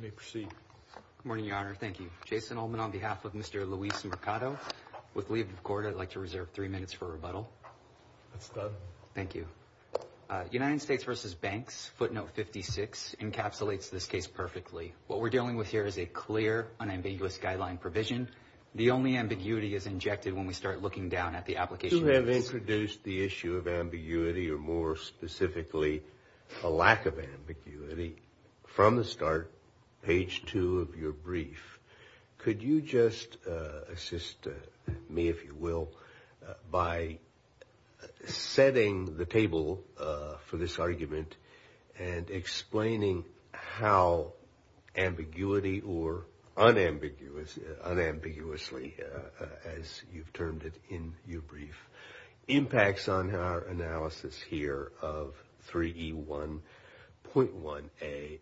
Good morning, Your Honor. Thank you. Jason Ullman on behalf of Mr. Luis Mercado. With leave of court, I'd like to reserve three minutes for rebuttal. That's done. Thank you. United States v. Banks, footnote 56, encapsulates this case perfectly. What we're dealing with here is a clear, unambiguous guideline provision. The only ambiguity is injected when we start looking down at the application process. You introduced the issue of ambiguity, or more specifically a lack of ambiguity, from the start, page two of your brief. Could you just assist me, if you will, by setting the table for this argument and explaining how ambiguity or unambiguously, as you've termed it in your brief, impacts on our analysis here of 3E1.1a,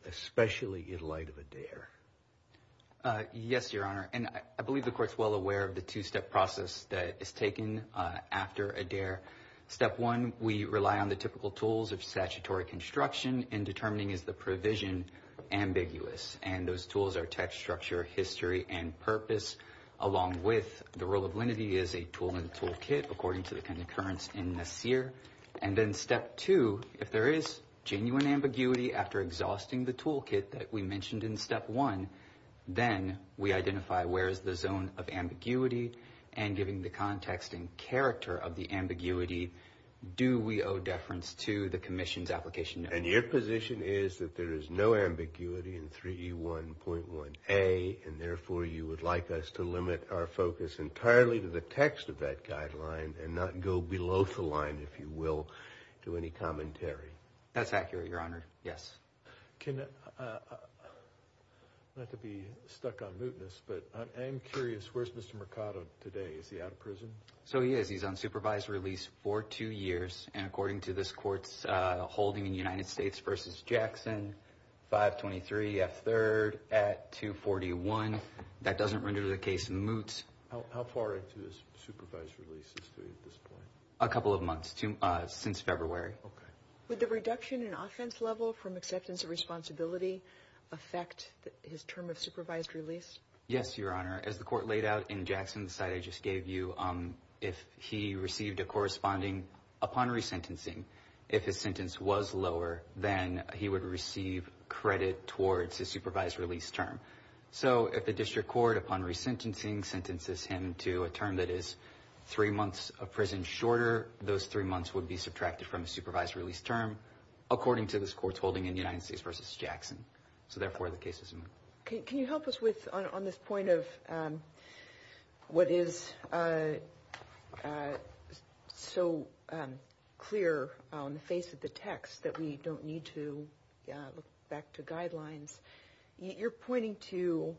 especially in light of Adair? Yes, Your Honor. And I believe the court's well aware of the two-step process that is taken after Adair. Step one, we rely on the typical tools of statutory construction in determining, is the provision ambiguous? And those tools are text, structure, history, and purpose, along with the rule of lenity is a tool in the toolkit, according to the concurrence in Nassir. And then step two, if there is genuine ambiguity after exhausting the toolkit that we mentioned in step one, then we identify where is the zone of ambiguity, and giving the context and character of the ambiguity, do we owe deference to the commission's application? And your position is that there is no ambiguity in 3E1.1a, and therefore you would like us to limit our focus entirely to the text of that guideline and not go below the line, if you will, to any commentary? That's accurate, Your Honor. Yes. Not to be stuck on mootness, but I am curious, where's Mr. Mercado today? Is he out of prison? So he is. He's on supervised release for two years. And according to this court's holding in United States v. Jackson, 523F3rd at 241, that doesn't render the case moot. How far into his supervised release is he at this point? A couple of months, since February. Okay. Would the reduction in offense level from acceptance of responsibility affect his term of supervised release? Yes, Your Honor. As the court laid out in Jackson's side I just gave you, if he received a corresponding upon resentencing, if his sentence was lower, then he would receive credit towards his supervised release term. So if the district court upon resentencing sentences him to a term that is three months of prison shorter, those three months would be subtracted from the supervised release term, according to this court's holding in United States v. Jackson. So therefore, the case is moot. Can you help us on this point of what is so clear on the face of the text that we don't need to look back to guidelines? You're pointing to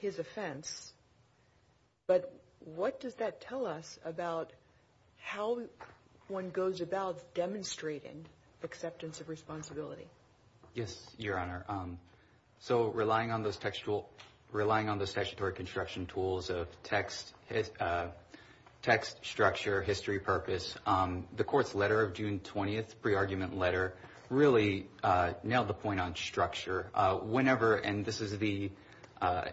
his offense, but what does that tell us about how one goes about demonstrating acceptance of responsibility? Yes, Your Honor. So relying on the statutory construction tools of text, structure, history, purpose, the court's letter of June 20th, pre-argument letter, really nailed the point on structure. Whenever, and this is the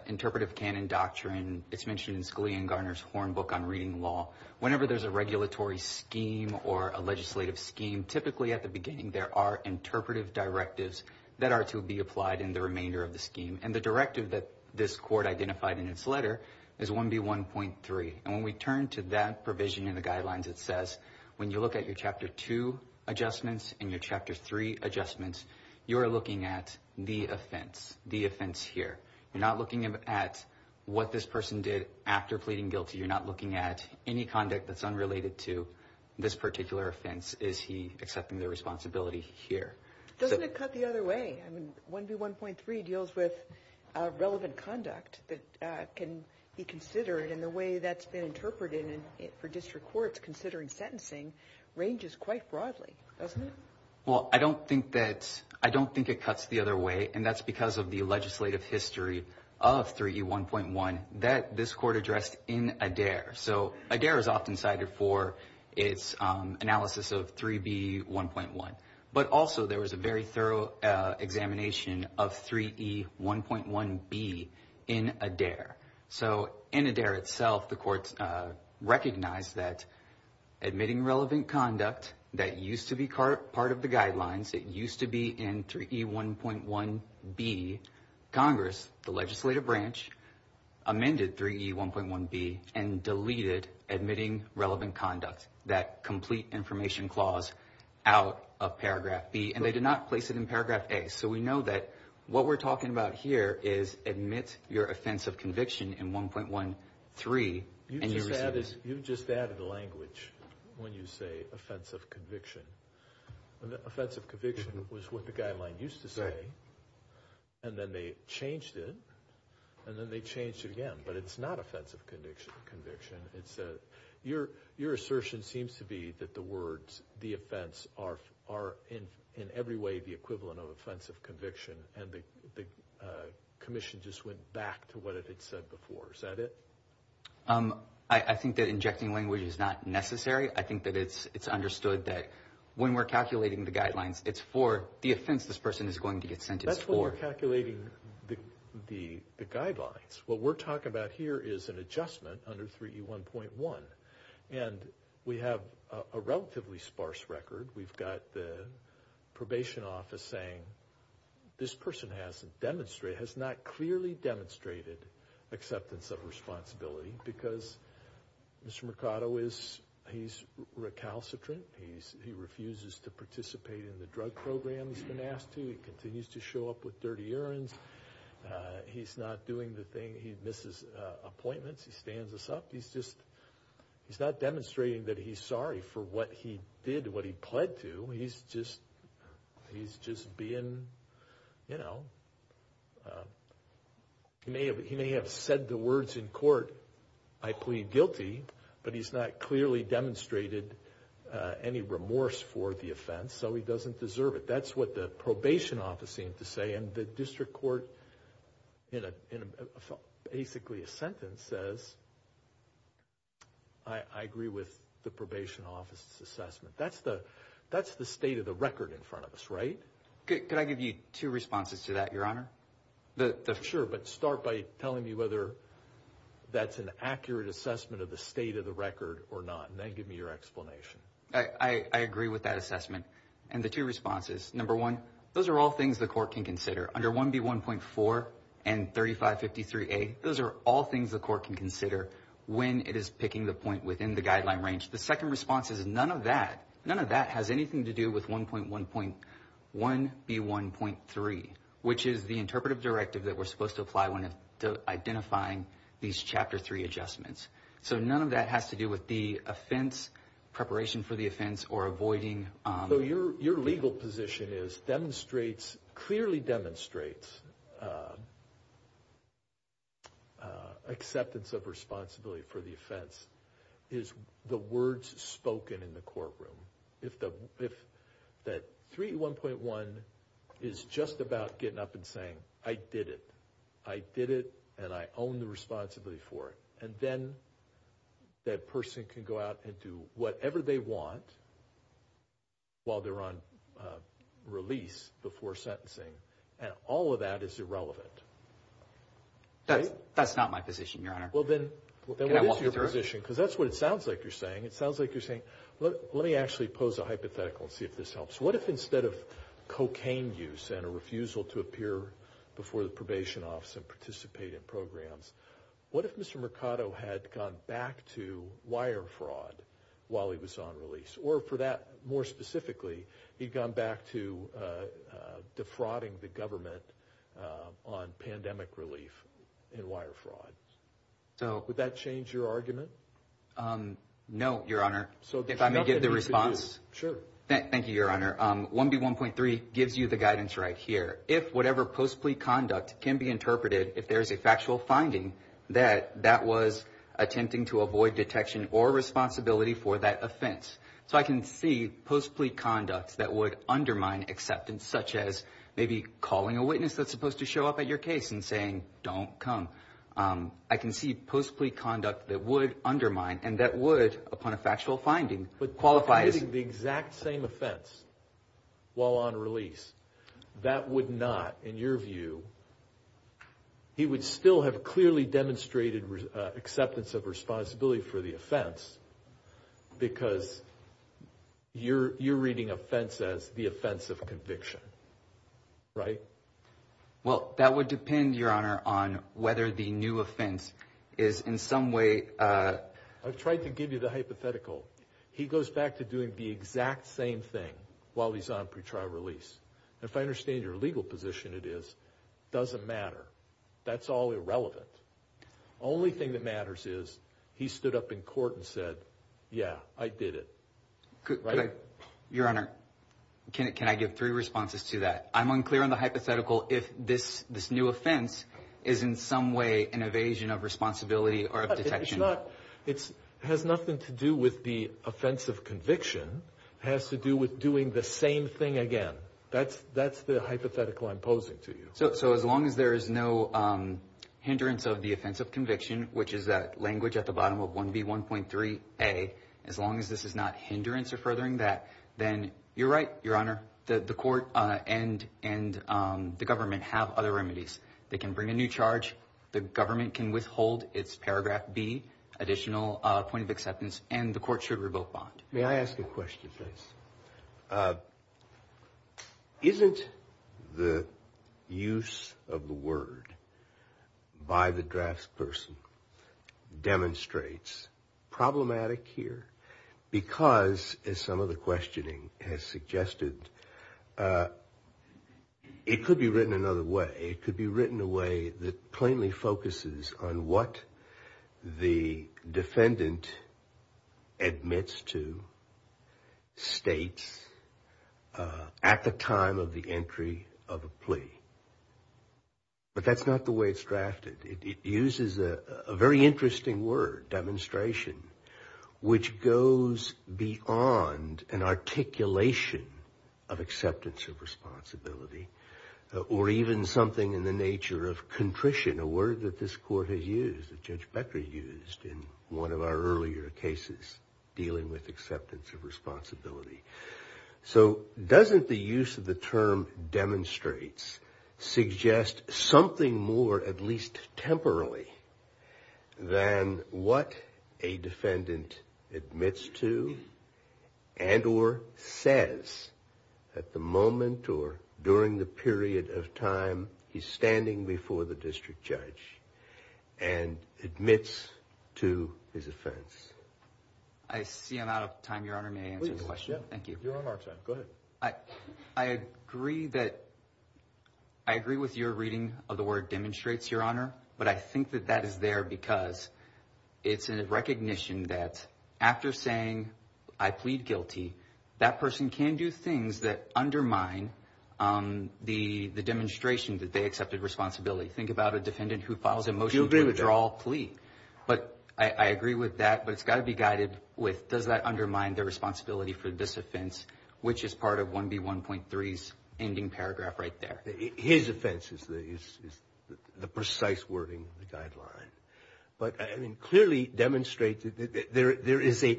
interpretive canon doctrine, it's mentioned in Scalia and Garner's horn book on reading law, whenever there's a regulatory scheme or a legislative scheme, typically at the beginning there are interpretive directives that are to be applied in the remainder of the scheme. And the directive that this court identified in its letter is 1B1.3. And when we turn to that provision in the guidelines, it says when you look at your Chapter 2 adjustments and your Chapter 3 adjustments, you're looking at the offense, the offense here. You're not looking at what this person did after pleading guilty. You're not looking at any conduct that's unrelated to this particular offense. Is he accepting the responsibility here? Doesn't it cut the other way? I mean, 1B1.3 deals with relevant conduct that can be considered, and the way that's been interpreted for district courts considering sentencing ranges quite broadly, doesn't it? Well, I don't think it cuts the other way, and that's because of the legislative history of 3E1.1 that this court addressed in Adair. So Adair is often cited for its analysis of 3B1.1. But also there was a very thorough examination of 3E1.1B in Adair. So in Adair itself, the court recognized that admitting relevant conduct that used to be part of the guidelines, it used to be in 3E1.1B, Congress, the legislative branch, amended 3E1.1B and deleted admitting relevant conduct, that complete information clause out of paragraph B, and they did not place it in paragraph A. So we know that what we're talking about here is admit your offense of conviction in 1.1.3 and you receive it. You've just added language when you say offense of conviction. Offense of conviction was what the guideline used to say, and then they changed it, and then they changed it again, but it's not offense of conviction. Your assertion seems to be that the words the offense are in every way the equivalent of offense of conviction, and the commission just went back to what it had said before. Is that it? I think that injecting language is not necessary. I think that it's understood that when we're calculating the guidelines, it's for the offense this person is going to get sentenced for. When we're calculating the guidelines, what we're talking about here is an adjustment under 3E1.1, and we have a relatively sparse record. We've got the probation office saying this person has not clearly demonstrated acceptance of responsibility because Mr. Mercado, he's recalcitrant. He refuses to participate in the drug program he's been asked to. He continues to show up with dirty errands. He's not doing the thing. He misses appointments. He stands us up. He's just not demonstrating that he's sorry for what he did, what he pled to. He's just being, you know, he may have said the words in court, I plead guilty, but he's not clearly demonstrated any remorse for the offense, so he doesn't deserve it. That's what the probation office seemed to say, and the district court, in basically a sentence, says, I agree with the probation office's assessment. That's the state of the record in front of us, right? Could I give you two responses to that, Your Honor? Sure, but start by telling me whether that's an accurate assessment of the state of the record or not, and then give me your explanation. I agree with that assessment, and the two responses, number one, those are all things the court can consider. Under 1B1.4 and 3553A, those are all things the court can consider when it is picking the point within the guideline range. The second response is none of that, none of that has anything to do with 1.1.1B1.3, which is the interpretive directive that we're supposed to apply when identifying these Chapter 3 adjustments. So none of that has to do with the offense, preparation for the offense, or avoiding... So your legal position clearly demonstrates acceptance of responsibility for the offense is the words spoken in the courtroom. If that 3.1.1 is just about getting up and saying, I did it, I did it, and I own the responsibility for it, and then that person can go out and do whatever they want while they're on release before sentencing, and all of that is irrelevant. That's not my position, Your Honor. Well, then what is your position? Can I walk you through it? Because that's what it sounds like you're saying. It sounds like you're saying, let me actually pose a hypothetical and see if this helps. What if instead of cocaine use and a refusal to appear before the probation office and participate in programs, what if Mr. Mercado had gone back to wire fraud while he was on release? Or for that more specifically, he'd gone back to defrauding the government on pandemic relief and wire fraud. Would that change your argument? No, Your Honor. If I may give the response? Sure. Thank you, Your Honor. 1B1.3 gives you the guidance right here. If whatever post-plea conduct can be interpreted, if there's a factual finding, that that was attempting to avoid detection or responsibility for that offense. So I can see post-plea conducts that would undermine acceptance, such as maybe calling a witness that's supposed to show up at your case and saying, don't come. I can see post-plea conduct that would undermine and that would, upon a factual finding, qualify as – while on release. That would not, in your view, he would still have clearly demonstrated acceptance of responsibility for the offense because you're reading offense as the offense of conviction. Right? Well, that would depend, Your Honor, on whether the new offense is in some way – I've tried to give you the hypothetical. He goes back to doing the exact same thing while he's on pretrial release. And if I understand your legal position, it is it doesn't matter. That's all irrelevant. The only thing that matters is he stood up in court and said, yeah, I did it. Right? Your Honor, can I give three responses to that? I'm unclear on the hypothetical if this new offense is in some way an evasion of responsibility or of detection. It has nothing to do with the offense of conviction. It has to do with doing the same thing again. That's the hypothetical I'm posing to you. So as long as there is no hindrance of the offense of conviction, which is that language at the bottom of 1B1.3a, as long as this is not hindrance or furthering that, then you're right, Your Honor, the court and the government have other remedies. They can bring a new charge. The government can withhold its paragraph B, additional point of acceptance, and the court should revoke bond. May I ask a question, please? Isn't the use of the word by the drafts person demonstrates problematic here? Because, as some of the questioning has suggested, it could be written another way. It could be written a way that plainly focuses on what the defendant admits to states at the time of the entry of a plea. But that's not the way it's drafted. It uses a very interesting word, demonstration, which goes beyond an articulation of acceptance of responsibility or even something in the nature of contrition, a word that this court has used, that Judge Becker used in one of our earlier cases dealing with acceptance of responsibility. So doesn't the use of the term demonstrates suggest something more, at least temporarily, than what a defendant admits to and or says at the moment or during the period of time he's standing before the district judge and admits to his offense? I see I'm out of time, Your Honor. May I answer the question? Please. You're on our time. Go ahead. I agree with your reading of the word demonstrates, Your Honor, but I think that that is there because it's a recognition that after saying I plead guilty, that person can do things that undermine the demonstration that they accepted responsibility. Think about a defendant who files a motion to withdraw a plea. But I agree with that, but it's got to be guided with does that undermine the responsibility for this offense, which is part of 1B1.3's ending paragraph right there. His offense is the precise wording of the guideline. But I mean clearly demonstrate that there is a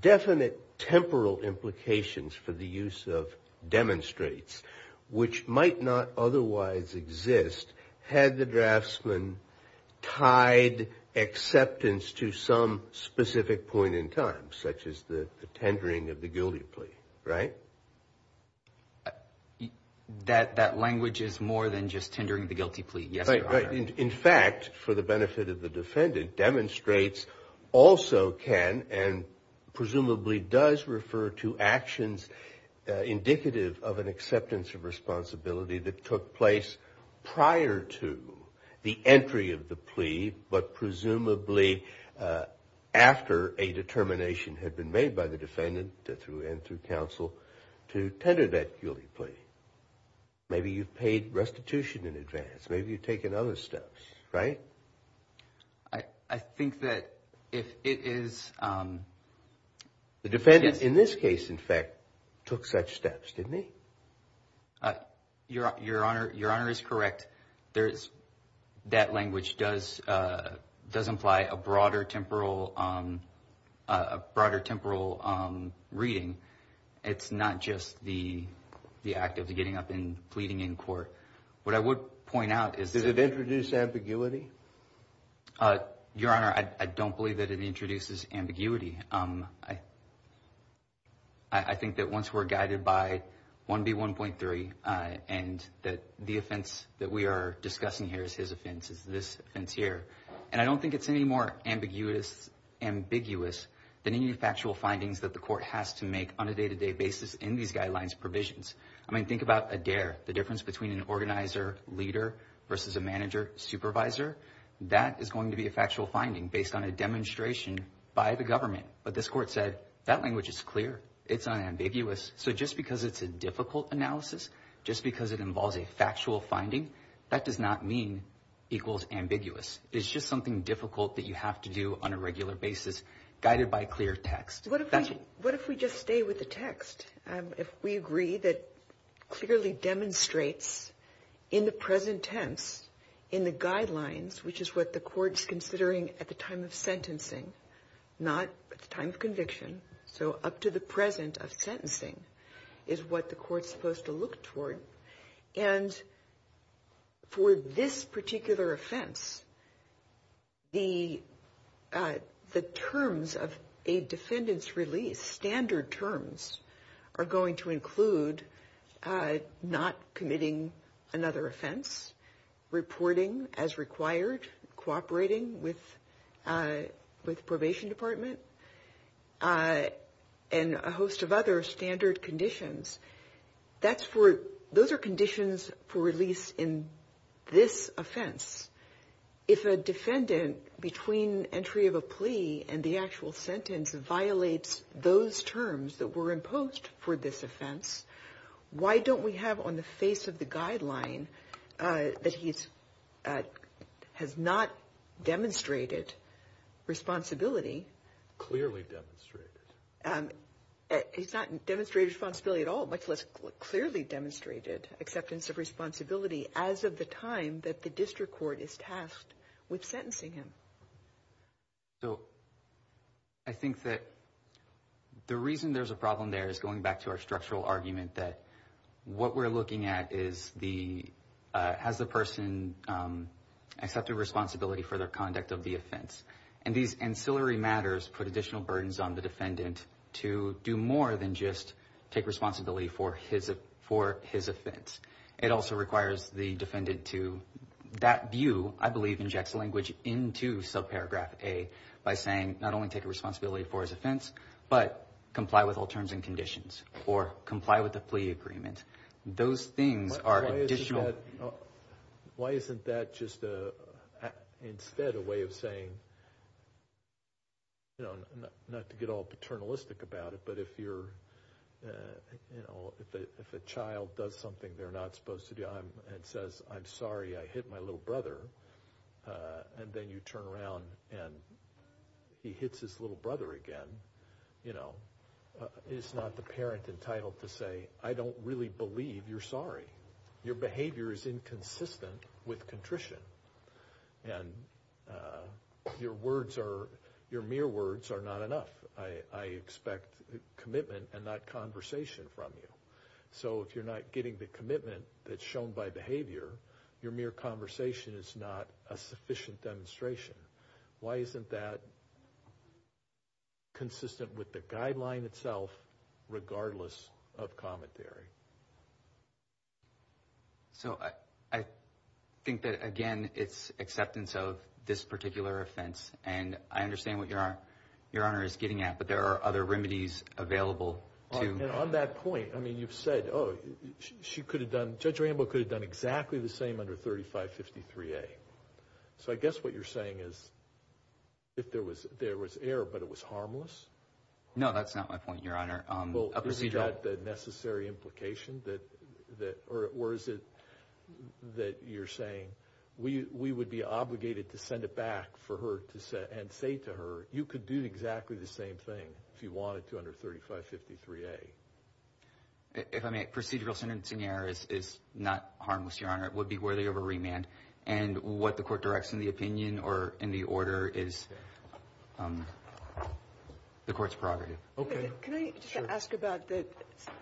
definite temporal implications for the use of demonstrates, which might not otherwise exist had the draftsman tied acceptance to some specific point in time, such as the tendering of the guilty plea, right? That language is more than just tendering the guilty plea, yes, Your Honor. In fact, for the benefit of the defendant, also can and presumably does refer to actions indicative of an acceptance of responsibility that took place prior to the entry of the plea, but presumably after a determination had been made by the defendant and through counsel to tender that guilty plea. Maybe you've paid restitution in advance. Maybe you've taken other steps, right? I think that if it is. The defendant in this case, in fact, took such steps, didn't he? Your Honor, Your Honor is correct. There is that language does does imply a broader temporal, a broader temporal reading. It's not just the the act of getting up and pleading in court. What I would point out is that it introduced ambiguity. Your Honor, I don't believe that it introduces ambiguity. I think that once we're guided by 1B1.3 and that the offense that we are discussing here is his offense is this offense here. And I don't think it's any more ambiguous, ambiguous than any factual findings that the court has to make on a day to day basis in these guidelines provisions. I mean, think about a dare. The difference between an organizer leader versus a manager supervisor. That is going to be a factual finding based on a demonstration by the government. But this court said that language is clear. It's unambiguous. So just because it's a difficult analysis, just because it involves a factual finding, that does not mean equals ambiguous. It's just something difficult that you have to do on a regular basis, guided by clear text. What if we just stay with the text? If we agree that clearly demonstrates in the present tense, in the guidelines, which is what the court's considering at the time of sentencing, not at the time of conviction. So up to the present of sentencing is what the court's supposed to look toward. And for this particular offense, the terms of a defendant's release, standard terms, are going to include not committing another offense, reporting as required, cooperating with probation department, and a host of other standard conditions. Those are conditions for release in this offense. If a defendant, between entry of a plea and the actual sentence, violates those terms that were imposed for this offense, why don't we have on the face of the guideline that he has not demonstrated responsibility. Clearly demonstrated. He's not demonstrated responsibility at all, much less clearly demonstrated acceptance of responsibility, as of the time that the district court is tasked with sentencing him. So I think that the reason there's a problem there is, going back to our structural argument, that what we're looking at is has the person accepted responsibility for their conduct of the offense. And these ancillary matters put additional burdens on the defendant to do more than just take responsibility for his offense. It also requires the defendant to, that view, I believe, injects language into subparagraph A by saying, not only take responsibility for his offense, but comply with all terms and conditions, or comply with the plea agreement. Those things are additional. Why isn't that just instead a way of saying, not to get all paternalistic about it, but if a child does something they're not supposed to do and says, I'm sorry, I hit my little brother, and then you turn around and he hits his little brother again, is not the parent entitled to say, I don't really believe you're sorry. Your behavior is inconsistent with contrition. And your mere words are not enough. I expect commitment and not conversation from you. So if you're not getting the commitment that's shown by behavior, your mere conversation is not a sufficient demonstration. Why isn't that consistent with the guideline itself, regardless of commentary? So I think that, again, it's acceptance of this particular offense. And I understand what Your Honor is getting at, but there are other remedies available. And on that point, I mean, you've said, oh, she could have done, Judge Rambo could have done exactly the same under 3553A. So I guess what you're saying is if there was error but it was harmless? No, that's not my point, Your Honor. Well, is that the necessary implication? Or is it that you're saying we would be obligated to send it back for her and say to her, you could do exactly the same thing if you wanted to under 3553A? If I may, procedural sentencing error is not harmless, Your Honor. It would be worthy of a remand. And what the court directs in the opinion or in the order is the court's prerogative. Okay. Can I just ask about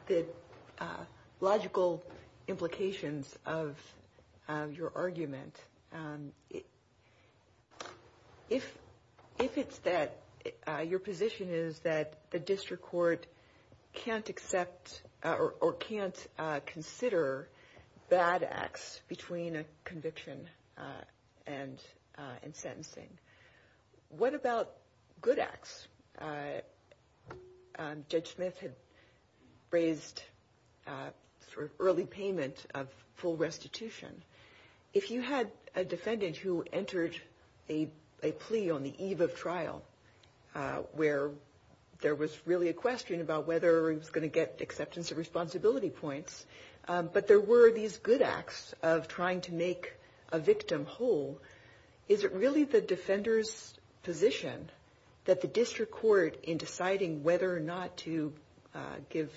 the logical implications of your argument? If it's that your position is that the district court can't accept or can't consider bad acts between a conviction and sentencing, what about good acts? Judge Smith had raised early payment of full restitution. If you had a defendant who entered a plea on the eve of trial where there was really a question about whether he was going to get acceptance of responsibility points, but there were these good acts of trying to make a victim whole, is it really the defender's position that the district court, in deciding whether or not to give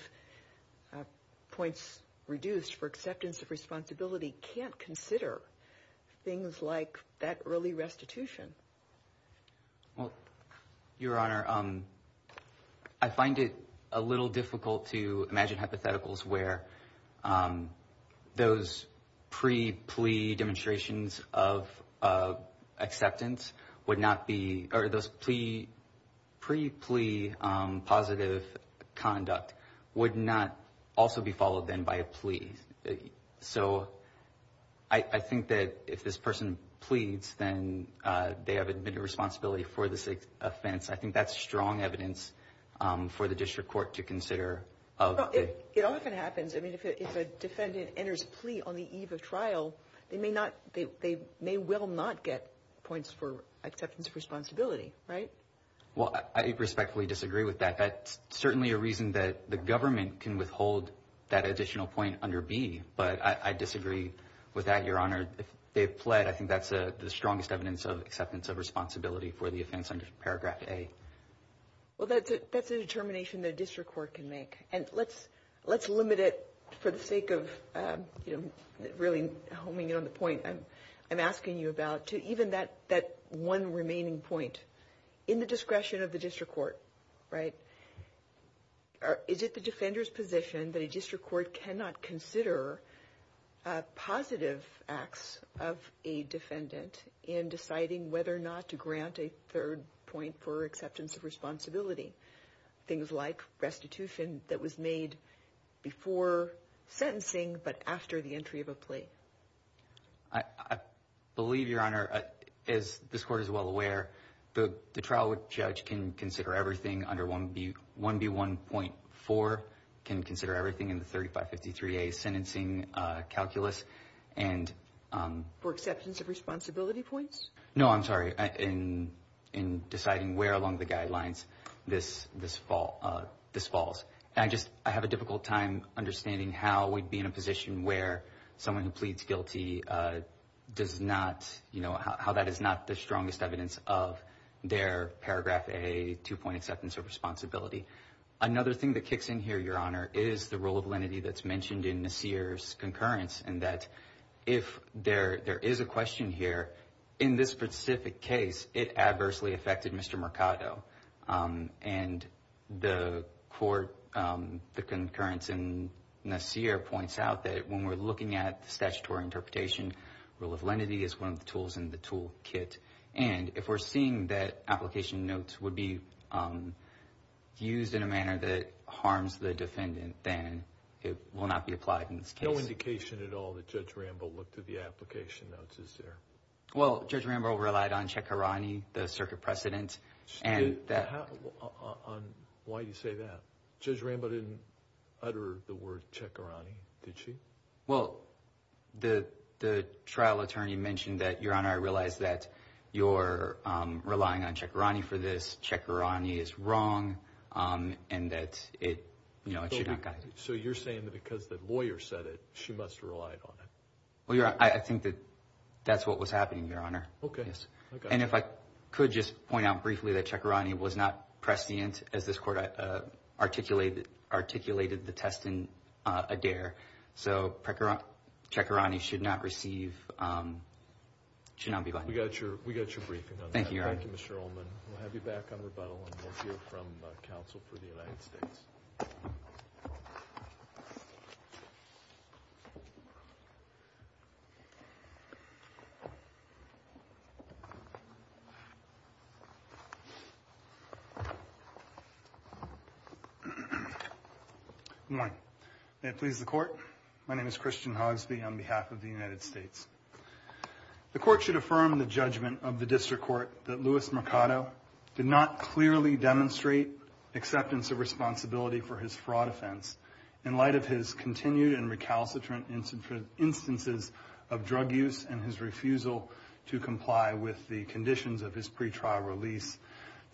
points reduced for acceptance of responsibility, can't consider things like that early restitution? Well, Your Honor, I find it a little difficult to imagine hypotheticals where those pre-plea demonstrations of acceptance would not be, or those pre-plea positive conduct would not also be followed then by a plea. So I think that if this person pleads, then they have admitted responsibility for this offense. I think that's strong evidence for the district court to consider. It often happens. I mean, if a defendant enters a plea on the eve of trial, they may well not get points for acceptance of responsibility, right? Well, I respectfully disagree with that. That's certainly a reason that the government can withhold that additional point under B. But I disagree with that, Your Honor. If they've pled, I think that's the strongest evidence of acceptance of responsibility for the offense under Paragraph A. Well, that's a determination the district court can make. And let's limit it for the sake of really homing in on the point I'm asking you about to even that one remaining point. In the discretion of the district court, right, is it the defender's position that a district court cannot consider positive acts of a defendant in deciding whether or not to grant a third point for acceptance of responsibility, things like restitution that was made before sentencing but after the entry of a plea? I believe, Your Honor, as this court is well aware, the trial judge can consider everything under 1B1.4, can consider everything in the 3553A sentencing calculus. For acceptance of responsibility points? No, I'm sorry. In deciding where along the guidelines this falls. I just have a difficult time understanding how we'd be in a position where someone who pleads guilty does not, you know, how that is not the strongest evidence of their Paragraph A two-point acceptance of responsibility. Another thing that kicks in here, Your Honor, is the role of lenity that's mentioned in Nasir's concurrence in that if there is a question here, in this specific case, it adversely affected Mr. Mercado. And the court, the concurrence in Nasir points out that when we're looking at the statutory interpretation, role of lenity is one of the tools in the toolkit. And if we're seeing that application notes would be used in a manner that harms the defendant, then it will not be applied in this case. No indication at all that Judge Rambo looked at the application notes, is there? Well, Judge Rambo relied on Cekirani, the circuit precedent. Why do you say that? Judge Rambo didn't utter the word Cekirani, did she? Well, the trial attorney mentioned that, Your Honor, I realize that you're relying on Cekirani for this. Cekirani is wrong and that it should not guide it. So you're saying that because the lawyer said it, she must have relied on it. Well, Your Honor, I think that that's what was happening, Your Honor. Okay. And if I could just point out briefly that Cekirani was not prescient as this court articulated the test in Adair. So Cekirani should not receive, should not be liable. We got your briefing on that. Thank you, Your Honor. Thank you, Mr. Ullman. We'll have you back on rebuttal and we'll hear from counsel for the United States. Good morning. May it please the Court. My name is Christian Hogsby on behalf of the United States. The Court should affirm the judgment of the District Court that Louis Mercado did not clearly demonstrate acceptance of responsibility for his fraud offense in light of his continued and recalcitrant instances of drug use and his refusal to comply with the conditions of his pretrial release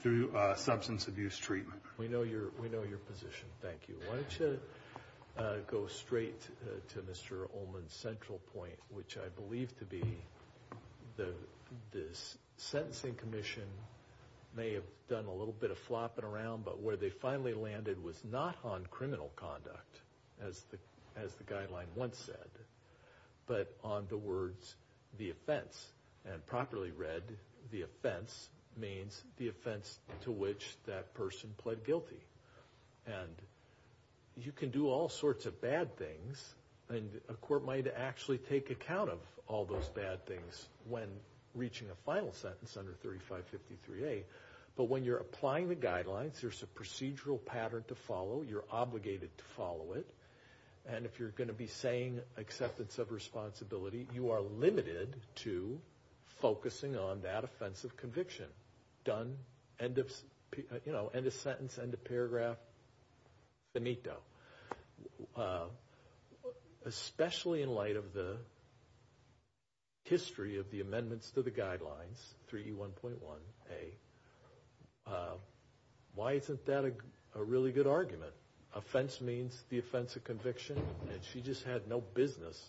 through substance abuse treatment. We know your position. Thank you. Why don't you go straight to Mr. Ullman's central point, which I believe to be this sentencing commission may have done a little bit of flopping around, but where they finally landed was not on criminal conduct, as the guideline once said, but on the words, the offense. And properly read, the offense means the offense to which that person pled guilty. And you can do all sorts of bad things, and a court might actually take account of all those bad things when reaching a final sentence under 3553A. But when you're applying the guidelines, there's a procedural pattern to follow. You're obligated to follow it. And if you're going to be saying acceptance of responsibility, you are limited to focusing on that offense of conviction. Done, end of sentence, end of paragraph, finito. Especially in light of the history of the amendments to the guidelines, 3E1.1A, why isn't that a really good argument? Offense means the offense of conviction, and she just had no business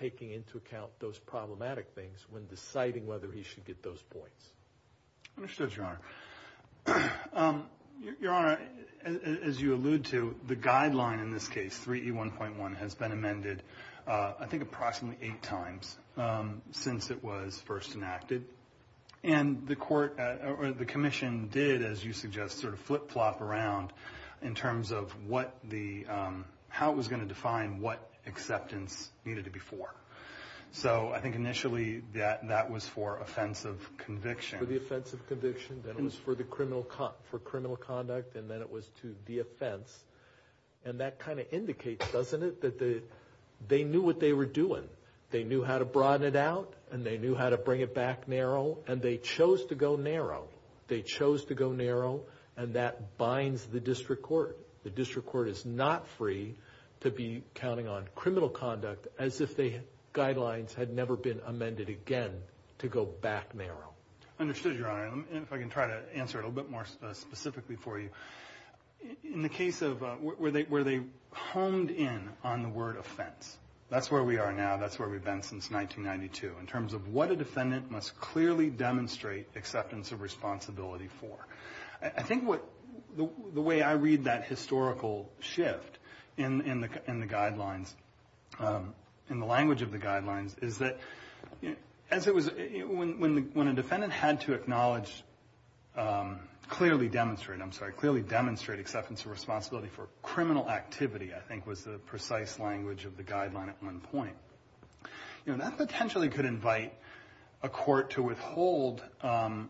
taking into account those problematic things when deciding whether he should get those points. Understood, Your Honor. Your Honor, as you allude to, the guideline in this case, 3E1.1, has been amended I think approximately eight times since it was first enacted. And the commission did, as you suggest, sort of flip-flop around in terms of how it was going to define what acceptance needed to be for. So I think initially that was for offense of conviction. Then it was for criminal conduct, and then it was to the offense. And that kind of indicates, doesn't it, that they knew what they were doing. They knew how to broaden it out, and they knew how to bring it back narrow, and they chose to go narrow. They chose to go narrow, and that binds the district court. The district court is not free to be counting on criminal conduct as if the guidelines had never been amended again to go back narrow. Understood, Your Honor. If I can try to answer it a little bit more specifically for you. In the case of where they honed in on the word offense, that's where we are now. That's where we've been since 1992 in terms of what a defendant must clearly demonstrate acceptance of responsibility for. I think the way I read that historical shift in the guidelines, in the language of the guidelines, is that when a defendant had to clearly demonstrate acceptance of responsibility for criminal activity, I think was the precise language of the guideline at one point. That potentially could invite a court to withhold a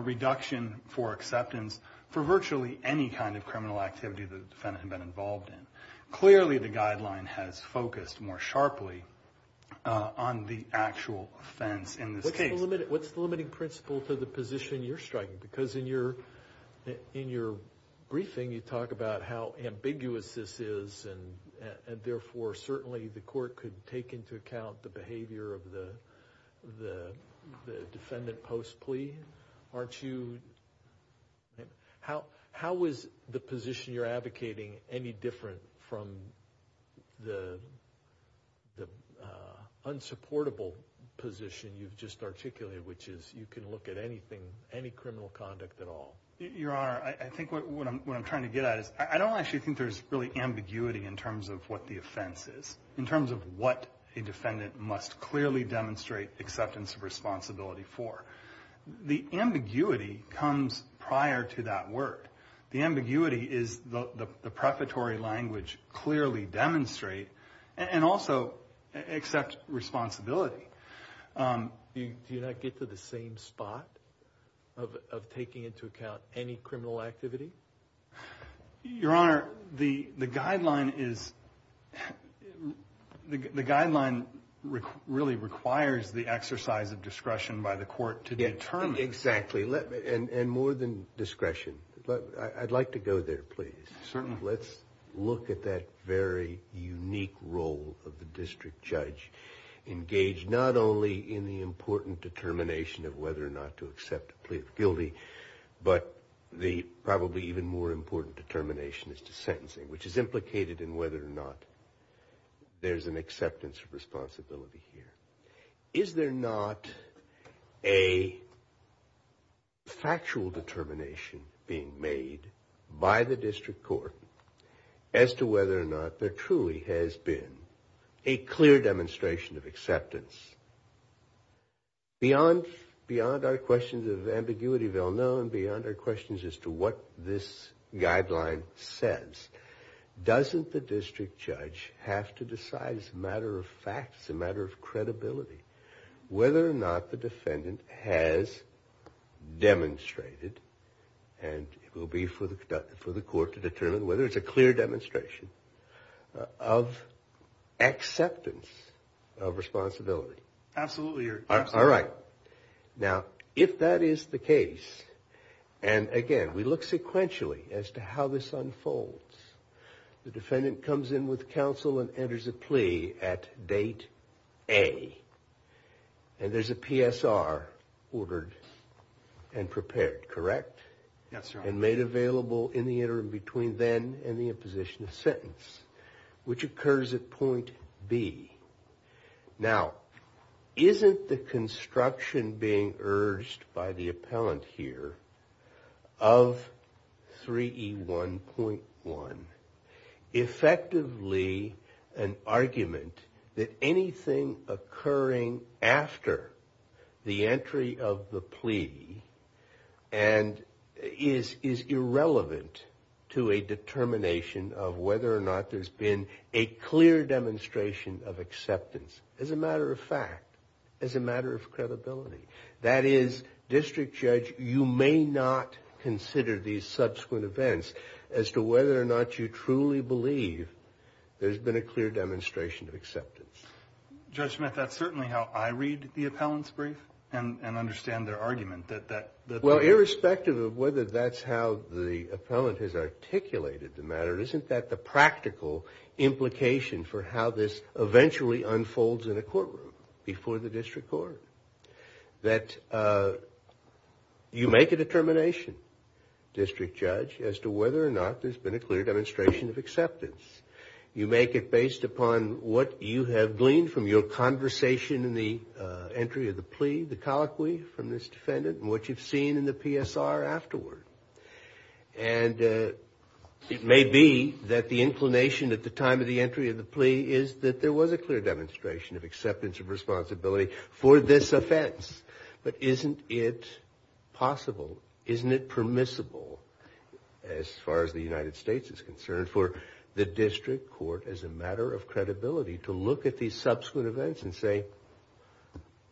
reduction for acceptance for virtually any kind of criminal activity the defendant had been involved in. Clearly, the guideline has focused more sharply on the actual offense in this case. What's the limiting principle to the position you're striking? Because in your briefing, you talk about how ambiguous this is, and therefore certainly the court could take into account the behavior of the defendant post-plea. How is the position you're advocating any different from the unsupportable position you've just articulated, which is you can look at anything, any criminal conduct at all? Your Honor, I think what I'm trying to get at is I don't actually think there's really ambiguity in terms of what the offense is, in terms of what a defendant must clearly demonstrate acceptance of responsibility for. The ambiguity comes prior to that word. The ambiguity is the prefatory language clearly demonstrate and also accept responsibility. Do you not get to the same spot of taking into account any criminal activity? Your Honor, the guideline really requires the exercise of discretion by the court to determine. Exactly, and more than discretion. I'd like to go there, please. Certainly. Let's look at that very unique role of the district judge, engaged not only in the important determination of whether or not to accept a plea of guilty, but the probably even more important determination as to sentencing, which is implicated in whether or not there's an acceptance of responsibility here. Is there not a factual determination being made by the district court as to whether or not there truly has been a clear demonstration of acceptance? Beyond our questions of ambiguity of ill-known, beyond our questions as to what this guideline says, doesn't the district judge have to decide as a matter of fact, as a matter of credibility, whether or not the defendant has demonstrated, and it will be for the court to determine whether it's a clear demonstration, of acceptance of responsibility? Absolutely, Your Honor. All right. Now, if that is the case, and again, we look sequentially as to how this unfolds, the defendant comes in with counsel and enters a plea at date A, and there's a PSR ordered and prepared, correct? Yes, Your Honor. And made available in the interim between then and the imposition of sentence, which occurs at point B. Now, isn't the construction being urged by the appellant here of 3E1.1 effectively an argument that anything occurring after the entry of the plea and is irrelevant to a determination of whether or not there's been a clear demonstration of acceptance, as a matter of fact, as a matter of credibility? That is, district judge, you may not consider these subsequent events as to whether or not you truly believe there's been a clear demonstration of acceptance. Judge Smith, that's certainly how I read the appellant's brief and understand their argument. Well, irrespective of whether that's how the appellant has articulated the matter, isn't that the practical implication for how this eventually unfolds in a courtroom before the district court? That you make a determination, district judge, as to whether or not there's been a clear demonstration of acceptance. You make it based upon what you have gleaned from your conversation in the entry of the plea, the colloquy from this defendant, and what you've seen in the PSR afterward. And it may be that the inclination at the time of the entry of the plea is that there was a clear demonstration of acceptance of responsibility for this offense. But isn't it possible, isn't it permissible, as far as the United States is concerned, for the district court, as a matter of credibility, to look at these subsequent events and say,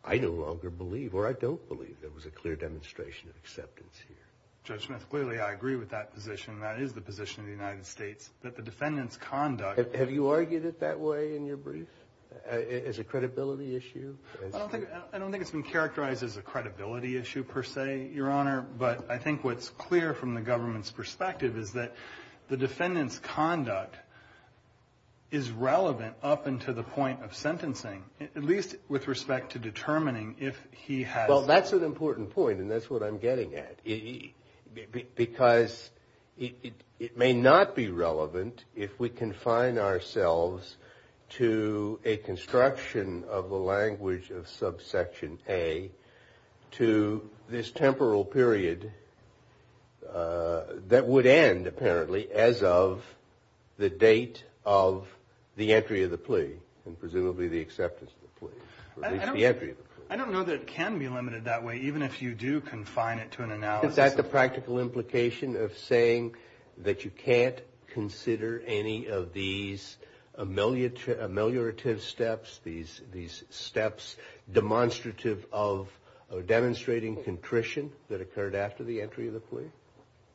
I no longer believe or I don't believe there was a clear demonstration of acceptance here. Judge Smith, clearly I agree with that position. That is the position of the United States, that the defendant's conduct... Have you argued it that way in your brief? As a credibility issue? I don't think it's been characterized as a credibility issue, per se, Your Honor. But I think what's clear from the government's perspective is that the defendant's conduct is relevant up until the point of sentencing, at least with respect to determining if he has... Well, that's an important point, and that's what I'm getting at. Because it may not be relevant if we confine ourselves to a construction of the language of subsection A to this temporal period that would end, apparently, as of the date of the entry of the plea, and presumably the acceptance of the plea, or at least the entry of the plea. I don't know that it can be limited that way, even if you do confine it to an analysis. Isn't that the practical implication of saying that you can't consider any of these ameliorative steps, these steps demonstrative of demonstrating contrition that occurred after the entry of the plea,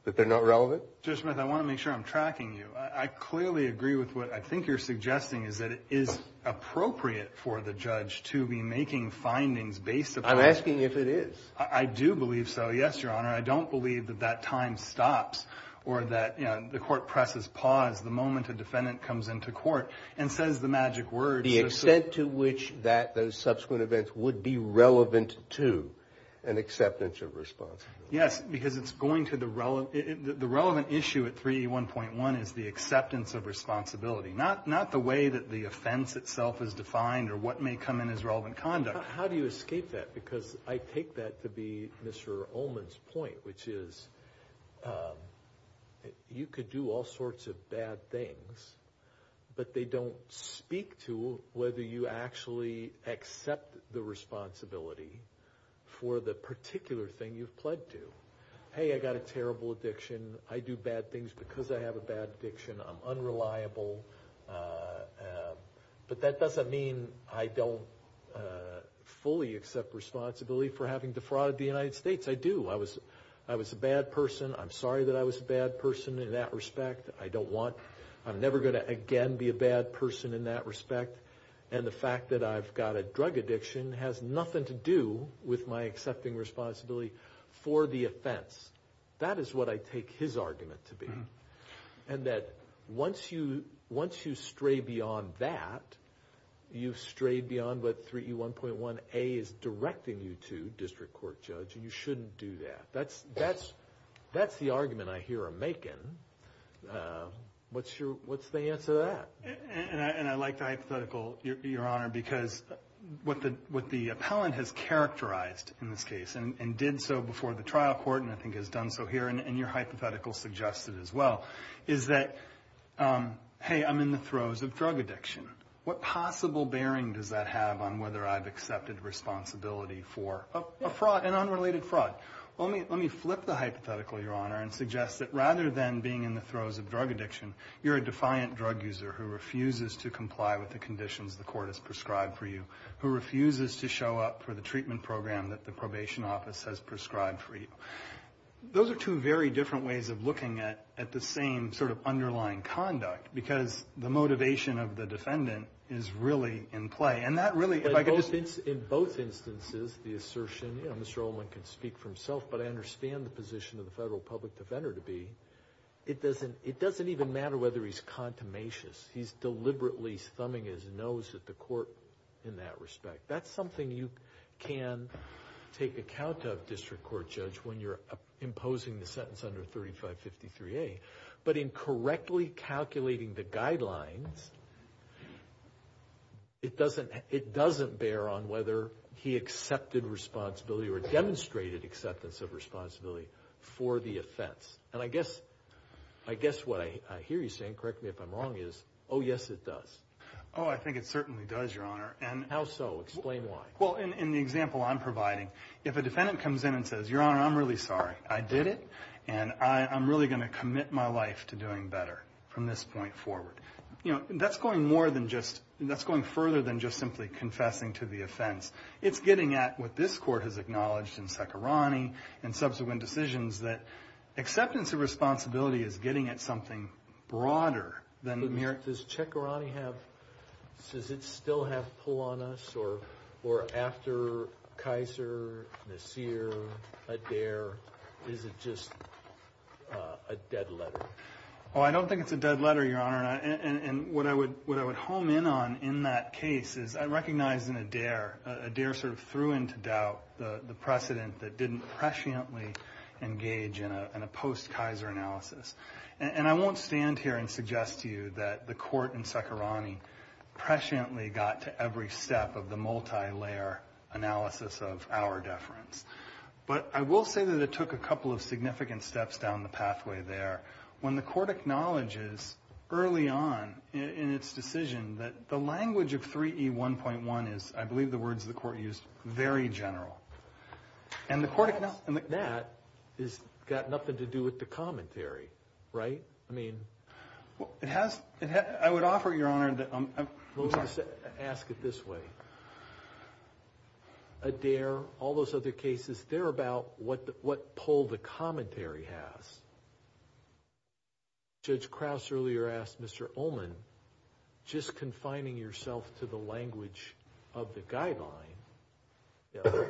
that they're not relevant? Judge Smith, I want to make sure I'm tracking you. I clearly agree with what I think you're suggesting, is that it is appropriate for the judge to be making findings based upon... I'm asking if it is. I do believe so, yes, Your Honor. I don't believe that that time stops or that the court presses pause the moment a defendant comes into court and says the magic words... The extent to which those subsequent events would be relevant to an acceptance of responsibility. Yes, because it's going to the relevant issue at 3E1.1 is the acceptance of responsibility, not the way that the offense itself is defined or what may come in as relevant conduct. How do you escape that? Because I take that to be Mr. Ullman's point, which is you could do all sorts of bad things, but they don't speak to whether you actually accept the responsibility for the particular thing you've pledged to. Hey, I got a terrible addiction. I do bad things because I have a bad addiction. I'm unreliable. But that doesn't mean I don't fully accept responsibility for having defrauded the United States. I do. I was a bad person. I'm sorry that I was a bad person in that respect. I don't want... I'm never going to again be a bad person in that respect. And the fact that I've got a drug addiction has nothing to do with my accepting responsibility for the offense. That is what I take his argument to be. And that once you stray beyond that, you've strayed beyond what 3E1.1A is directing you to, District Court Judge, and you shouldn't do that. That's the argument I hear him making. What's the answer to that? And I like the hypothetical, Your Honor, because what the appellant has characterized in this case, and did so before the trial court and I think has done so here, and your hypothetical suggested as well, is that, hey, I'm in the throes of drug addiction. What possible bearing does that have on whether I've accepted responsibility for a fraud, an unrelated fraud? Let me flip the hypothetical, Your Honor, and suggest that rather than being in the throes of drug addiction, you're a defiant drug user who refuses to comply with the conditions the court has prescribed for you, who refuses to show up for the treatment program that the probation office has prescribed for you. Those are two very different ways of looking at the same sort of underlying conduct because the motivation of the defendant is really in play. In both instances, the assertion, Mr. Ullman can speak for himself, but I understand the position of the federal public defender to be, it doesn't even matter whether he's contumacious. He's deliberately thumbing his nose at the court in that respect. That's something you can take account of, District Court Judge, when you're imposing the sentence under 3553A. But in correctly calculating the guidelines, it doesn't bear on whether he accepted responsibility or demonstrated acceptance of responsibility for the offense. And I guess what I hear you saying, correct me if I'm wrong, is, oh, yes, it does. Oh, I think it certainly does, Your Honor. How so? Explain why. Well, in the example I'm providing, if a defendant comes in and says, from this point forward. You know, that's going more than just, that's going further than just simply confessing to the offense. It's getting at what this court has acknowledged in Cekirani and subsequent decisions, that acceptance of responsibility is getting at something broader than mere... Oh, I don't think it's a dead letter, Your Honor. And what I would home in on in that case is I recognize in Adair, Adair sort of threw into doubt the precedent that didn't presciently engage in a post-Kaiser analysis. And I won't stand here and suggest to you that the court in Cekirani presciently got to every step of the multilayer analysis of our deference. But I will say that it took a couple of significant steps down the pathway there. When the court acknowledges early on in its decision that the language of 3E1.1 is, I believe the words the court used, very general. And the court... That has got nothing to do with the commentary, right? I mean... It has... I would offer, Your Honor... In most cases, they're about what poll the commentary has. Judge Krauss earlier asked Mr. Ullman, just confining yourself to the language of the guideline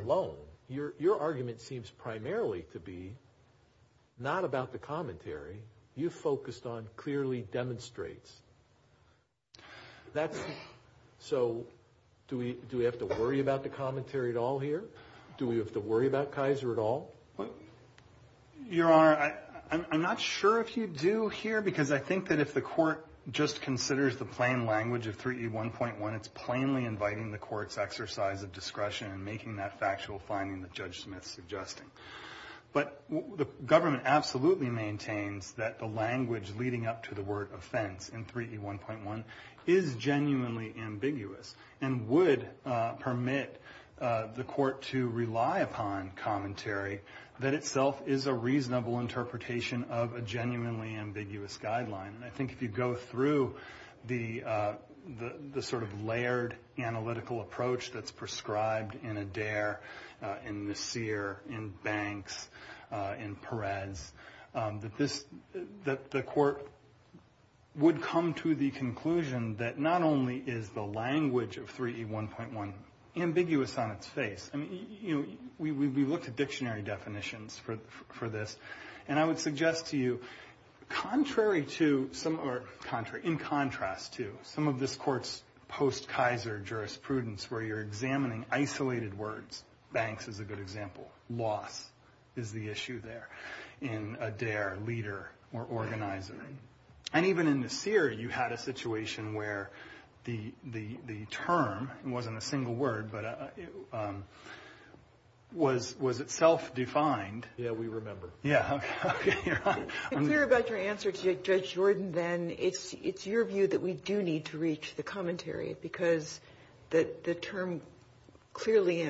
alone, your argument seems primarily to be not about the commentary. You focused on clearly demonstrates. That's... Your Honor, I'm not sure if you do here. Because I think that if the court just considers the plain language of 3E1.1, it's plainly inviting the court's exercise of discretion in making that factual finding that Judge Smith's suggesting. But the government absolutely maintains that the language leading up to the word offense in 3E1.1 is genuinely ambiguous. And would permit the court to rely upon commentary that itself is a reasonable interpretation of a genuinely ambiguous guideline. And I think if you go through the sort of layered analytical approach that's prescribed in Adair, in Messire, in Banks, in Perez... That the court would come to the conclusion that not only is the language of 3E1.1 ambiguous on its face. I mean, you know, we looked at dictionary definitions for this. And I would suggest to you, in contrast to some of this court's post-Kaiser jurisprudence where you're examining isolated words. Banks is a good example. Loss is the issue there in Adair, leader, or organizer. And even in Messire, you had a situation where the term, it wasn't a single word, but was itself defined. Yeah, we remember. Yeah. Okay. Your Honor. I think it's good that we do need to reach the commentary. Because the term clearly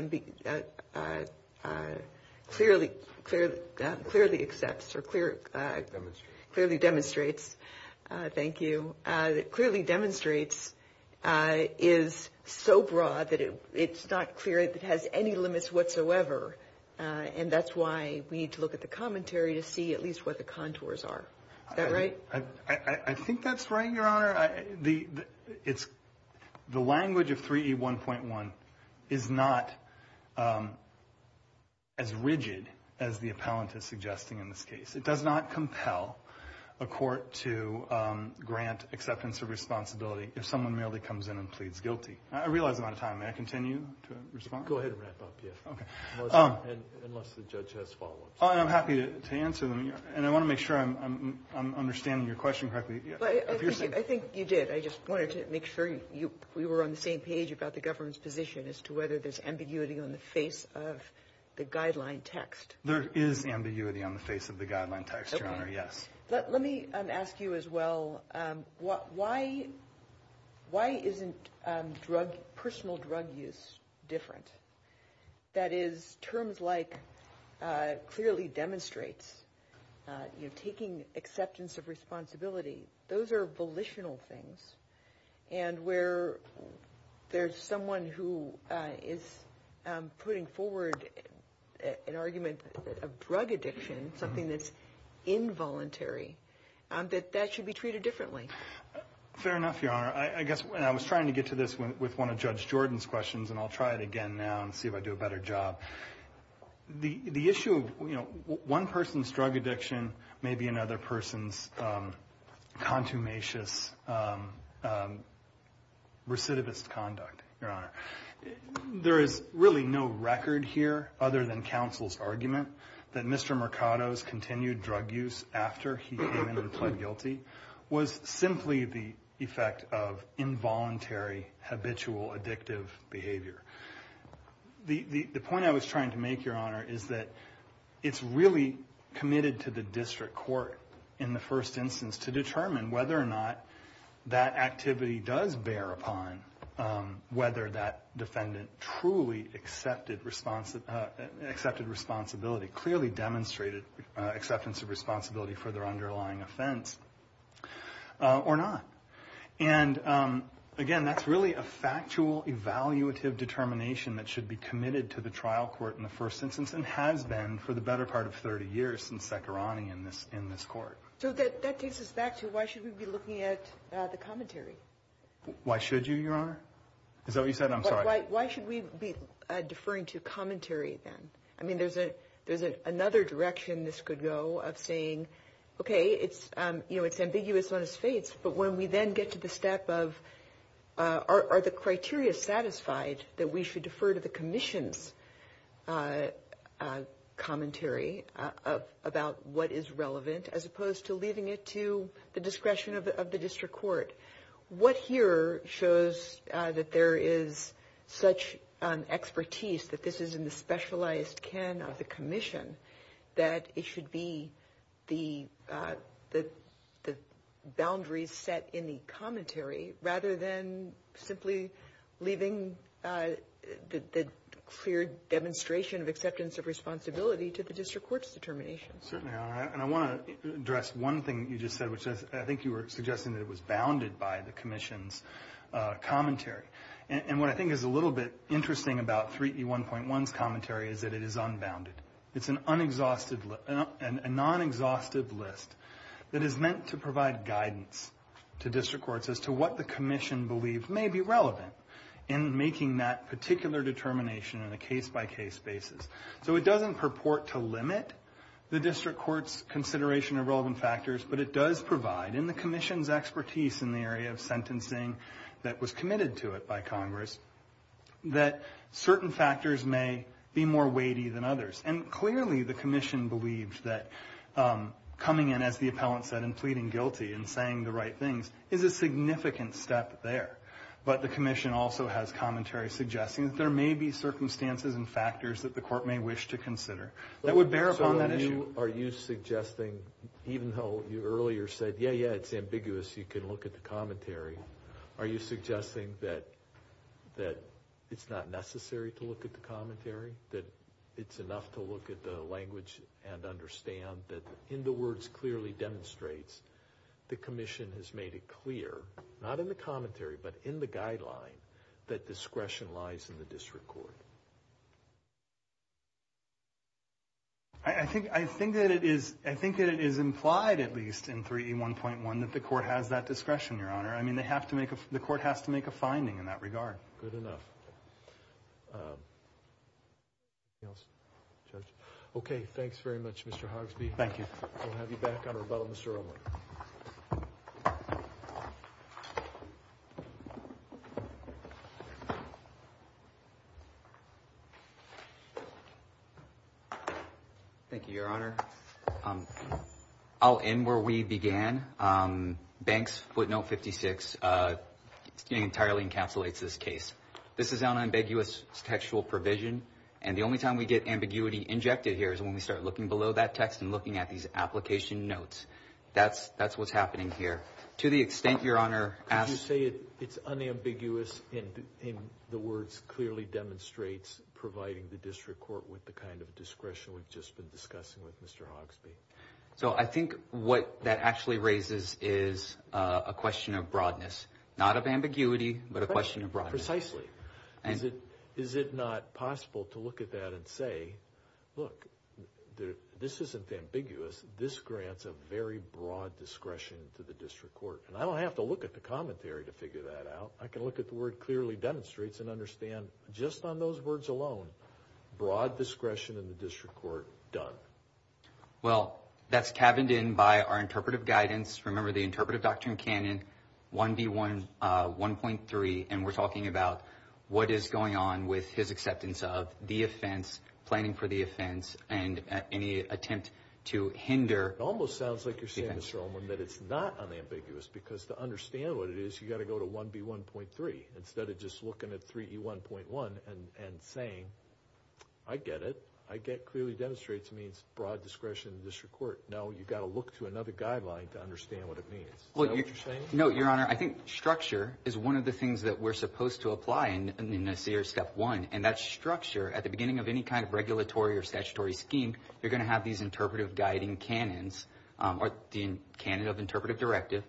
accepts or clearly demonstrates. Thank you. Clearly demonstrates is so broad that it's not clear it has any limits whatsoever. And that's why we need to look at the commentary to see at least what the contours are. Is that right? I think that's right, Your Honor. The language of 3E1.1 is not as rigid as the appellant is suggesting in this case. It does not compel a court to grant acceptance of responsibility if someone merely comes in and pleads guilty. I realize I'm out of time. May I continue to respond? Go ahead and wrap up, yes. Okay. Unless the judge has follow-ups. I'm happy to answer them. And I want to make sure I'm understanding your question correctly. I think you did. I just wanted to make sure we were on the same page about the government's position as to whether there's ambiguity on the face of the guideline text. There is ambiguity on the face of the guideline text, Your Honor, yes. Let me ask you as well, why isn't personal drug use different? That is, terms like clearly demonstrates, taking acceptance of responsibility, those are volitional things. And where there's someone who is putting forward an argument of drug addiction, something that's involuntary, that that should be treated differently. Fair enough, Your Honor. I guess I was trying to get to this with one of Judge Jordan's questions, and I'll try it again now and see if I do a better job. The issue of one person's drug addiction may be another person's contumacious recidivist conduct, Your Honor. There is really no record here other than counsel's argument that Mr. Mercado's of involuntary, habitual, addictive behavior. The point I was trying to make, Your Honor, is that it's really committed to the district court in the first instance to determine whether or not that activity does bear upon whether that defendant truly accepted responsibility, clearly demonstrated acceptance of responsibility for their underlying offense, or not. And, again, that's really a factual, evaluative determination that should be committed to the trial court in the first instance, and has been for the better part of 30 years since Sekharani in this court. So that takes us back to why should we be looking at the commentary? Why should you, Your Honor? Is that what you said? I'm sorry. Why should we be deferring to commentary, then? I mean, there's another direction this could go of saying, okay, it's ambiguous on its face, but when we then get to the step of are the criteria satisfied that we should defer to the commission's commentary about what is relevant, as opposed to leaving it to the discretion of the district court? What here shows that there is such expertise that this is in the specialized can of the commission that it should be the boundaries set in the commentary, rather than simply leaving the clear demonstration of acceptance of responsibility to the district court's determination? Certainly, Your Honor. And I want to address one thing that you just said, which I think you were suggesting that it was bounded by the commission's commentary. And what I think is a little bit interesting about 3E1.1's commentary is that it is unbounded. It's a non-exhaustive list that is meant to provide guidance to district courts as to what the commission believes may be relevant in making that particular determination in a case-by-case basis. So it doesn't purport to limit the district court's consideration of relevant factors, but it does provide, in the commission's expertise in the area of sentencing that was committed to it by Congress, that certain factors may be more weighty than others. And clearly the commission believed that coming in, as the appellant said, and pleading guilty and saying the right things is a significant step there. But the commission also has commentary suggesting that there may be circumstances and factors that the court may wish to consider that would bear upon that issue. Are you suggesting, even though you earlier said, yeah, yeah, it's ambiguous, you can look at the commentary, are you suggesting that it's not necessary to look at the commentary, that it's enough to look at the language and understand that in the words clearly demonstrates the commission has made it clear, not in the commentary but in the guideline, that discretion lies in the district court? I think that it is implied at least in 3E1.1 that the court has that discretion, Your Honor. I mean, the court has to make a finding in that regard. Good enough. Anything else, Judge? Okay. Thanks very much, Mr. Hogsby. Thank you. We'll have you back on rebuttal, Mr. Romer. Thank you, Your Honor. I'll end where we began. Banks footnote 56 entirely encapsulates this case. This is unambiguous textual provision, and the only time we get ambiguity injected here is when we start looking below that text and looking at these application notes. That's what's happening here. To the extent, Your Honor, as— in the words clearly demonstrates providing the district court with the kind of discretion we've just been discussing with Mr. Hogsby. So I think what that actually raises is a question of broadness, not of ambiguity but a question of broadness. Precisely. Is it not possible to look at that and say, look, this isn't ambiguous. This grants a very broad discretion to the district court. And I don't have to look at the commentary to figure that out. I can look at the word clearly demonstrates and understand just on those words alone, broad discretion in the district court done. Well, that's cabined in by our interpretive guidance. Remember the interpretive doctrine canon, 1B1.3, and we're talking about what is going on with his acceptance of the offense, planning for the offense, and any attempt to hinder— It almost sounds like you're saying, Mr. Romer, that it's not unambiguous because to understand what it is, you've got to go to 1B1.3 instead of just looking at 3E1.1 and saying, I get it. I get clearly demonstrates means broad discretion in the district court. No, you've got to look to another guideline to understand what it means. Is that what you're saying? No, Your Honor. I think structure is one of the things that we're supposed to apply in this year's Step 1, and that's structure. At the beginning of any kind of regulatory or statutory scheme, you're going to have these interpretive guiding canons or the canon of interpretive directive.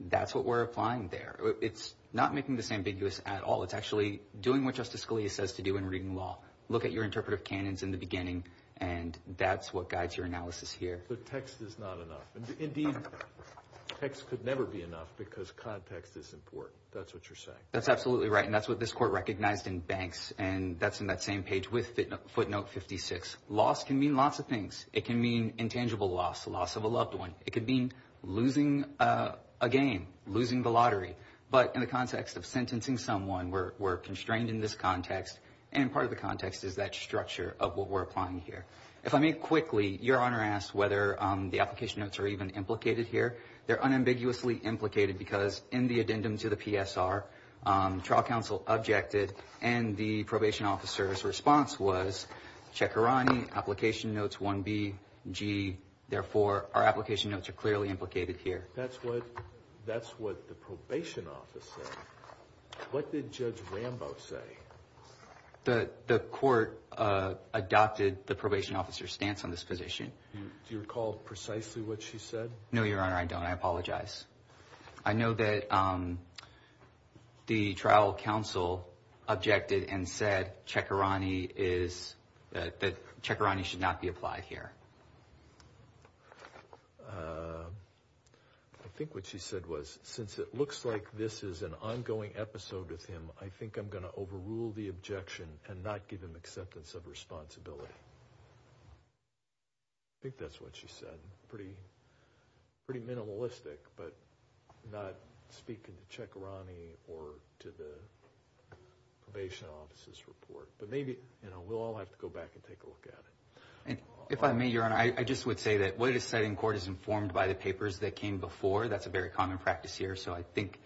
That's what we're applying there. It's not making this ambiguous at all. It's actually doing what Justice Scalia says to do in reading law. Look at your interpretive canons in the beginning, and that's what guides your analysis here. So text is not enough. Indeed, text could never be enough because context is important. That's what you're saying. That's absolutely right, and that's what this court recognized in Banks, and that's in that same page with footnote 56. Loss can mean lots of things. It can mean intangible loss, the loss of a loved one. It could mean losing a game, losing the lottery. But in the context of sentencing someone, we're constrained in this context, and part of the context is that structure of what we're applying here. If I may quickly, Your Honor asked whether the application notes are even implicated here. They're unambiguously implicated because in the addendum to the PSR, trial counsel objected, and the probation officer's response was, Chekharani, application notes 1B, G. Therefore, our application notes are clearly implicated here. That's what the probation office said. What did Judge Rambo say? The court adopted the probation officer's stance on this position. Do you recall precisely what she said? No, Your Honor, I don't. I apologize. I know that the trial counsel objected and said that Chekharani should not be applied here. I think what she said was, since it looks like this is an ongoing episode with him, I think I'm going to overrule the objection and not give him acceptance of responsibility. I think that's what she said. I'm pretty minimalistic, but I'm not speaking to Chekharani or to the probation officer's report. We'll all have to go back and take a look at it. If I may, Your Honor, I just would say that what is said in court is informed by the papers that came before. That's a very common practice here, so I think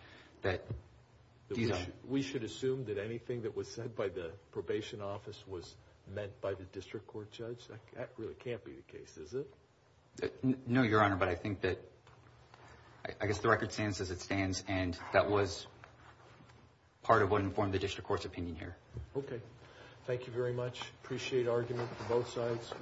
that— We should assume that anything that was said by the probation office was meant by the district court judge? That really can't be the case, is it? No, Your Honor, but I think that— I guess the record stands as it stands, and that was part of what informed the district court's opinion here. Okay. Thank you very much. Appreciate argument from both sides.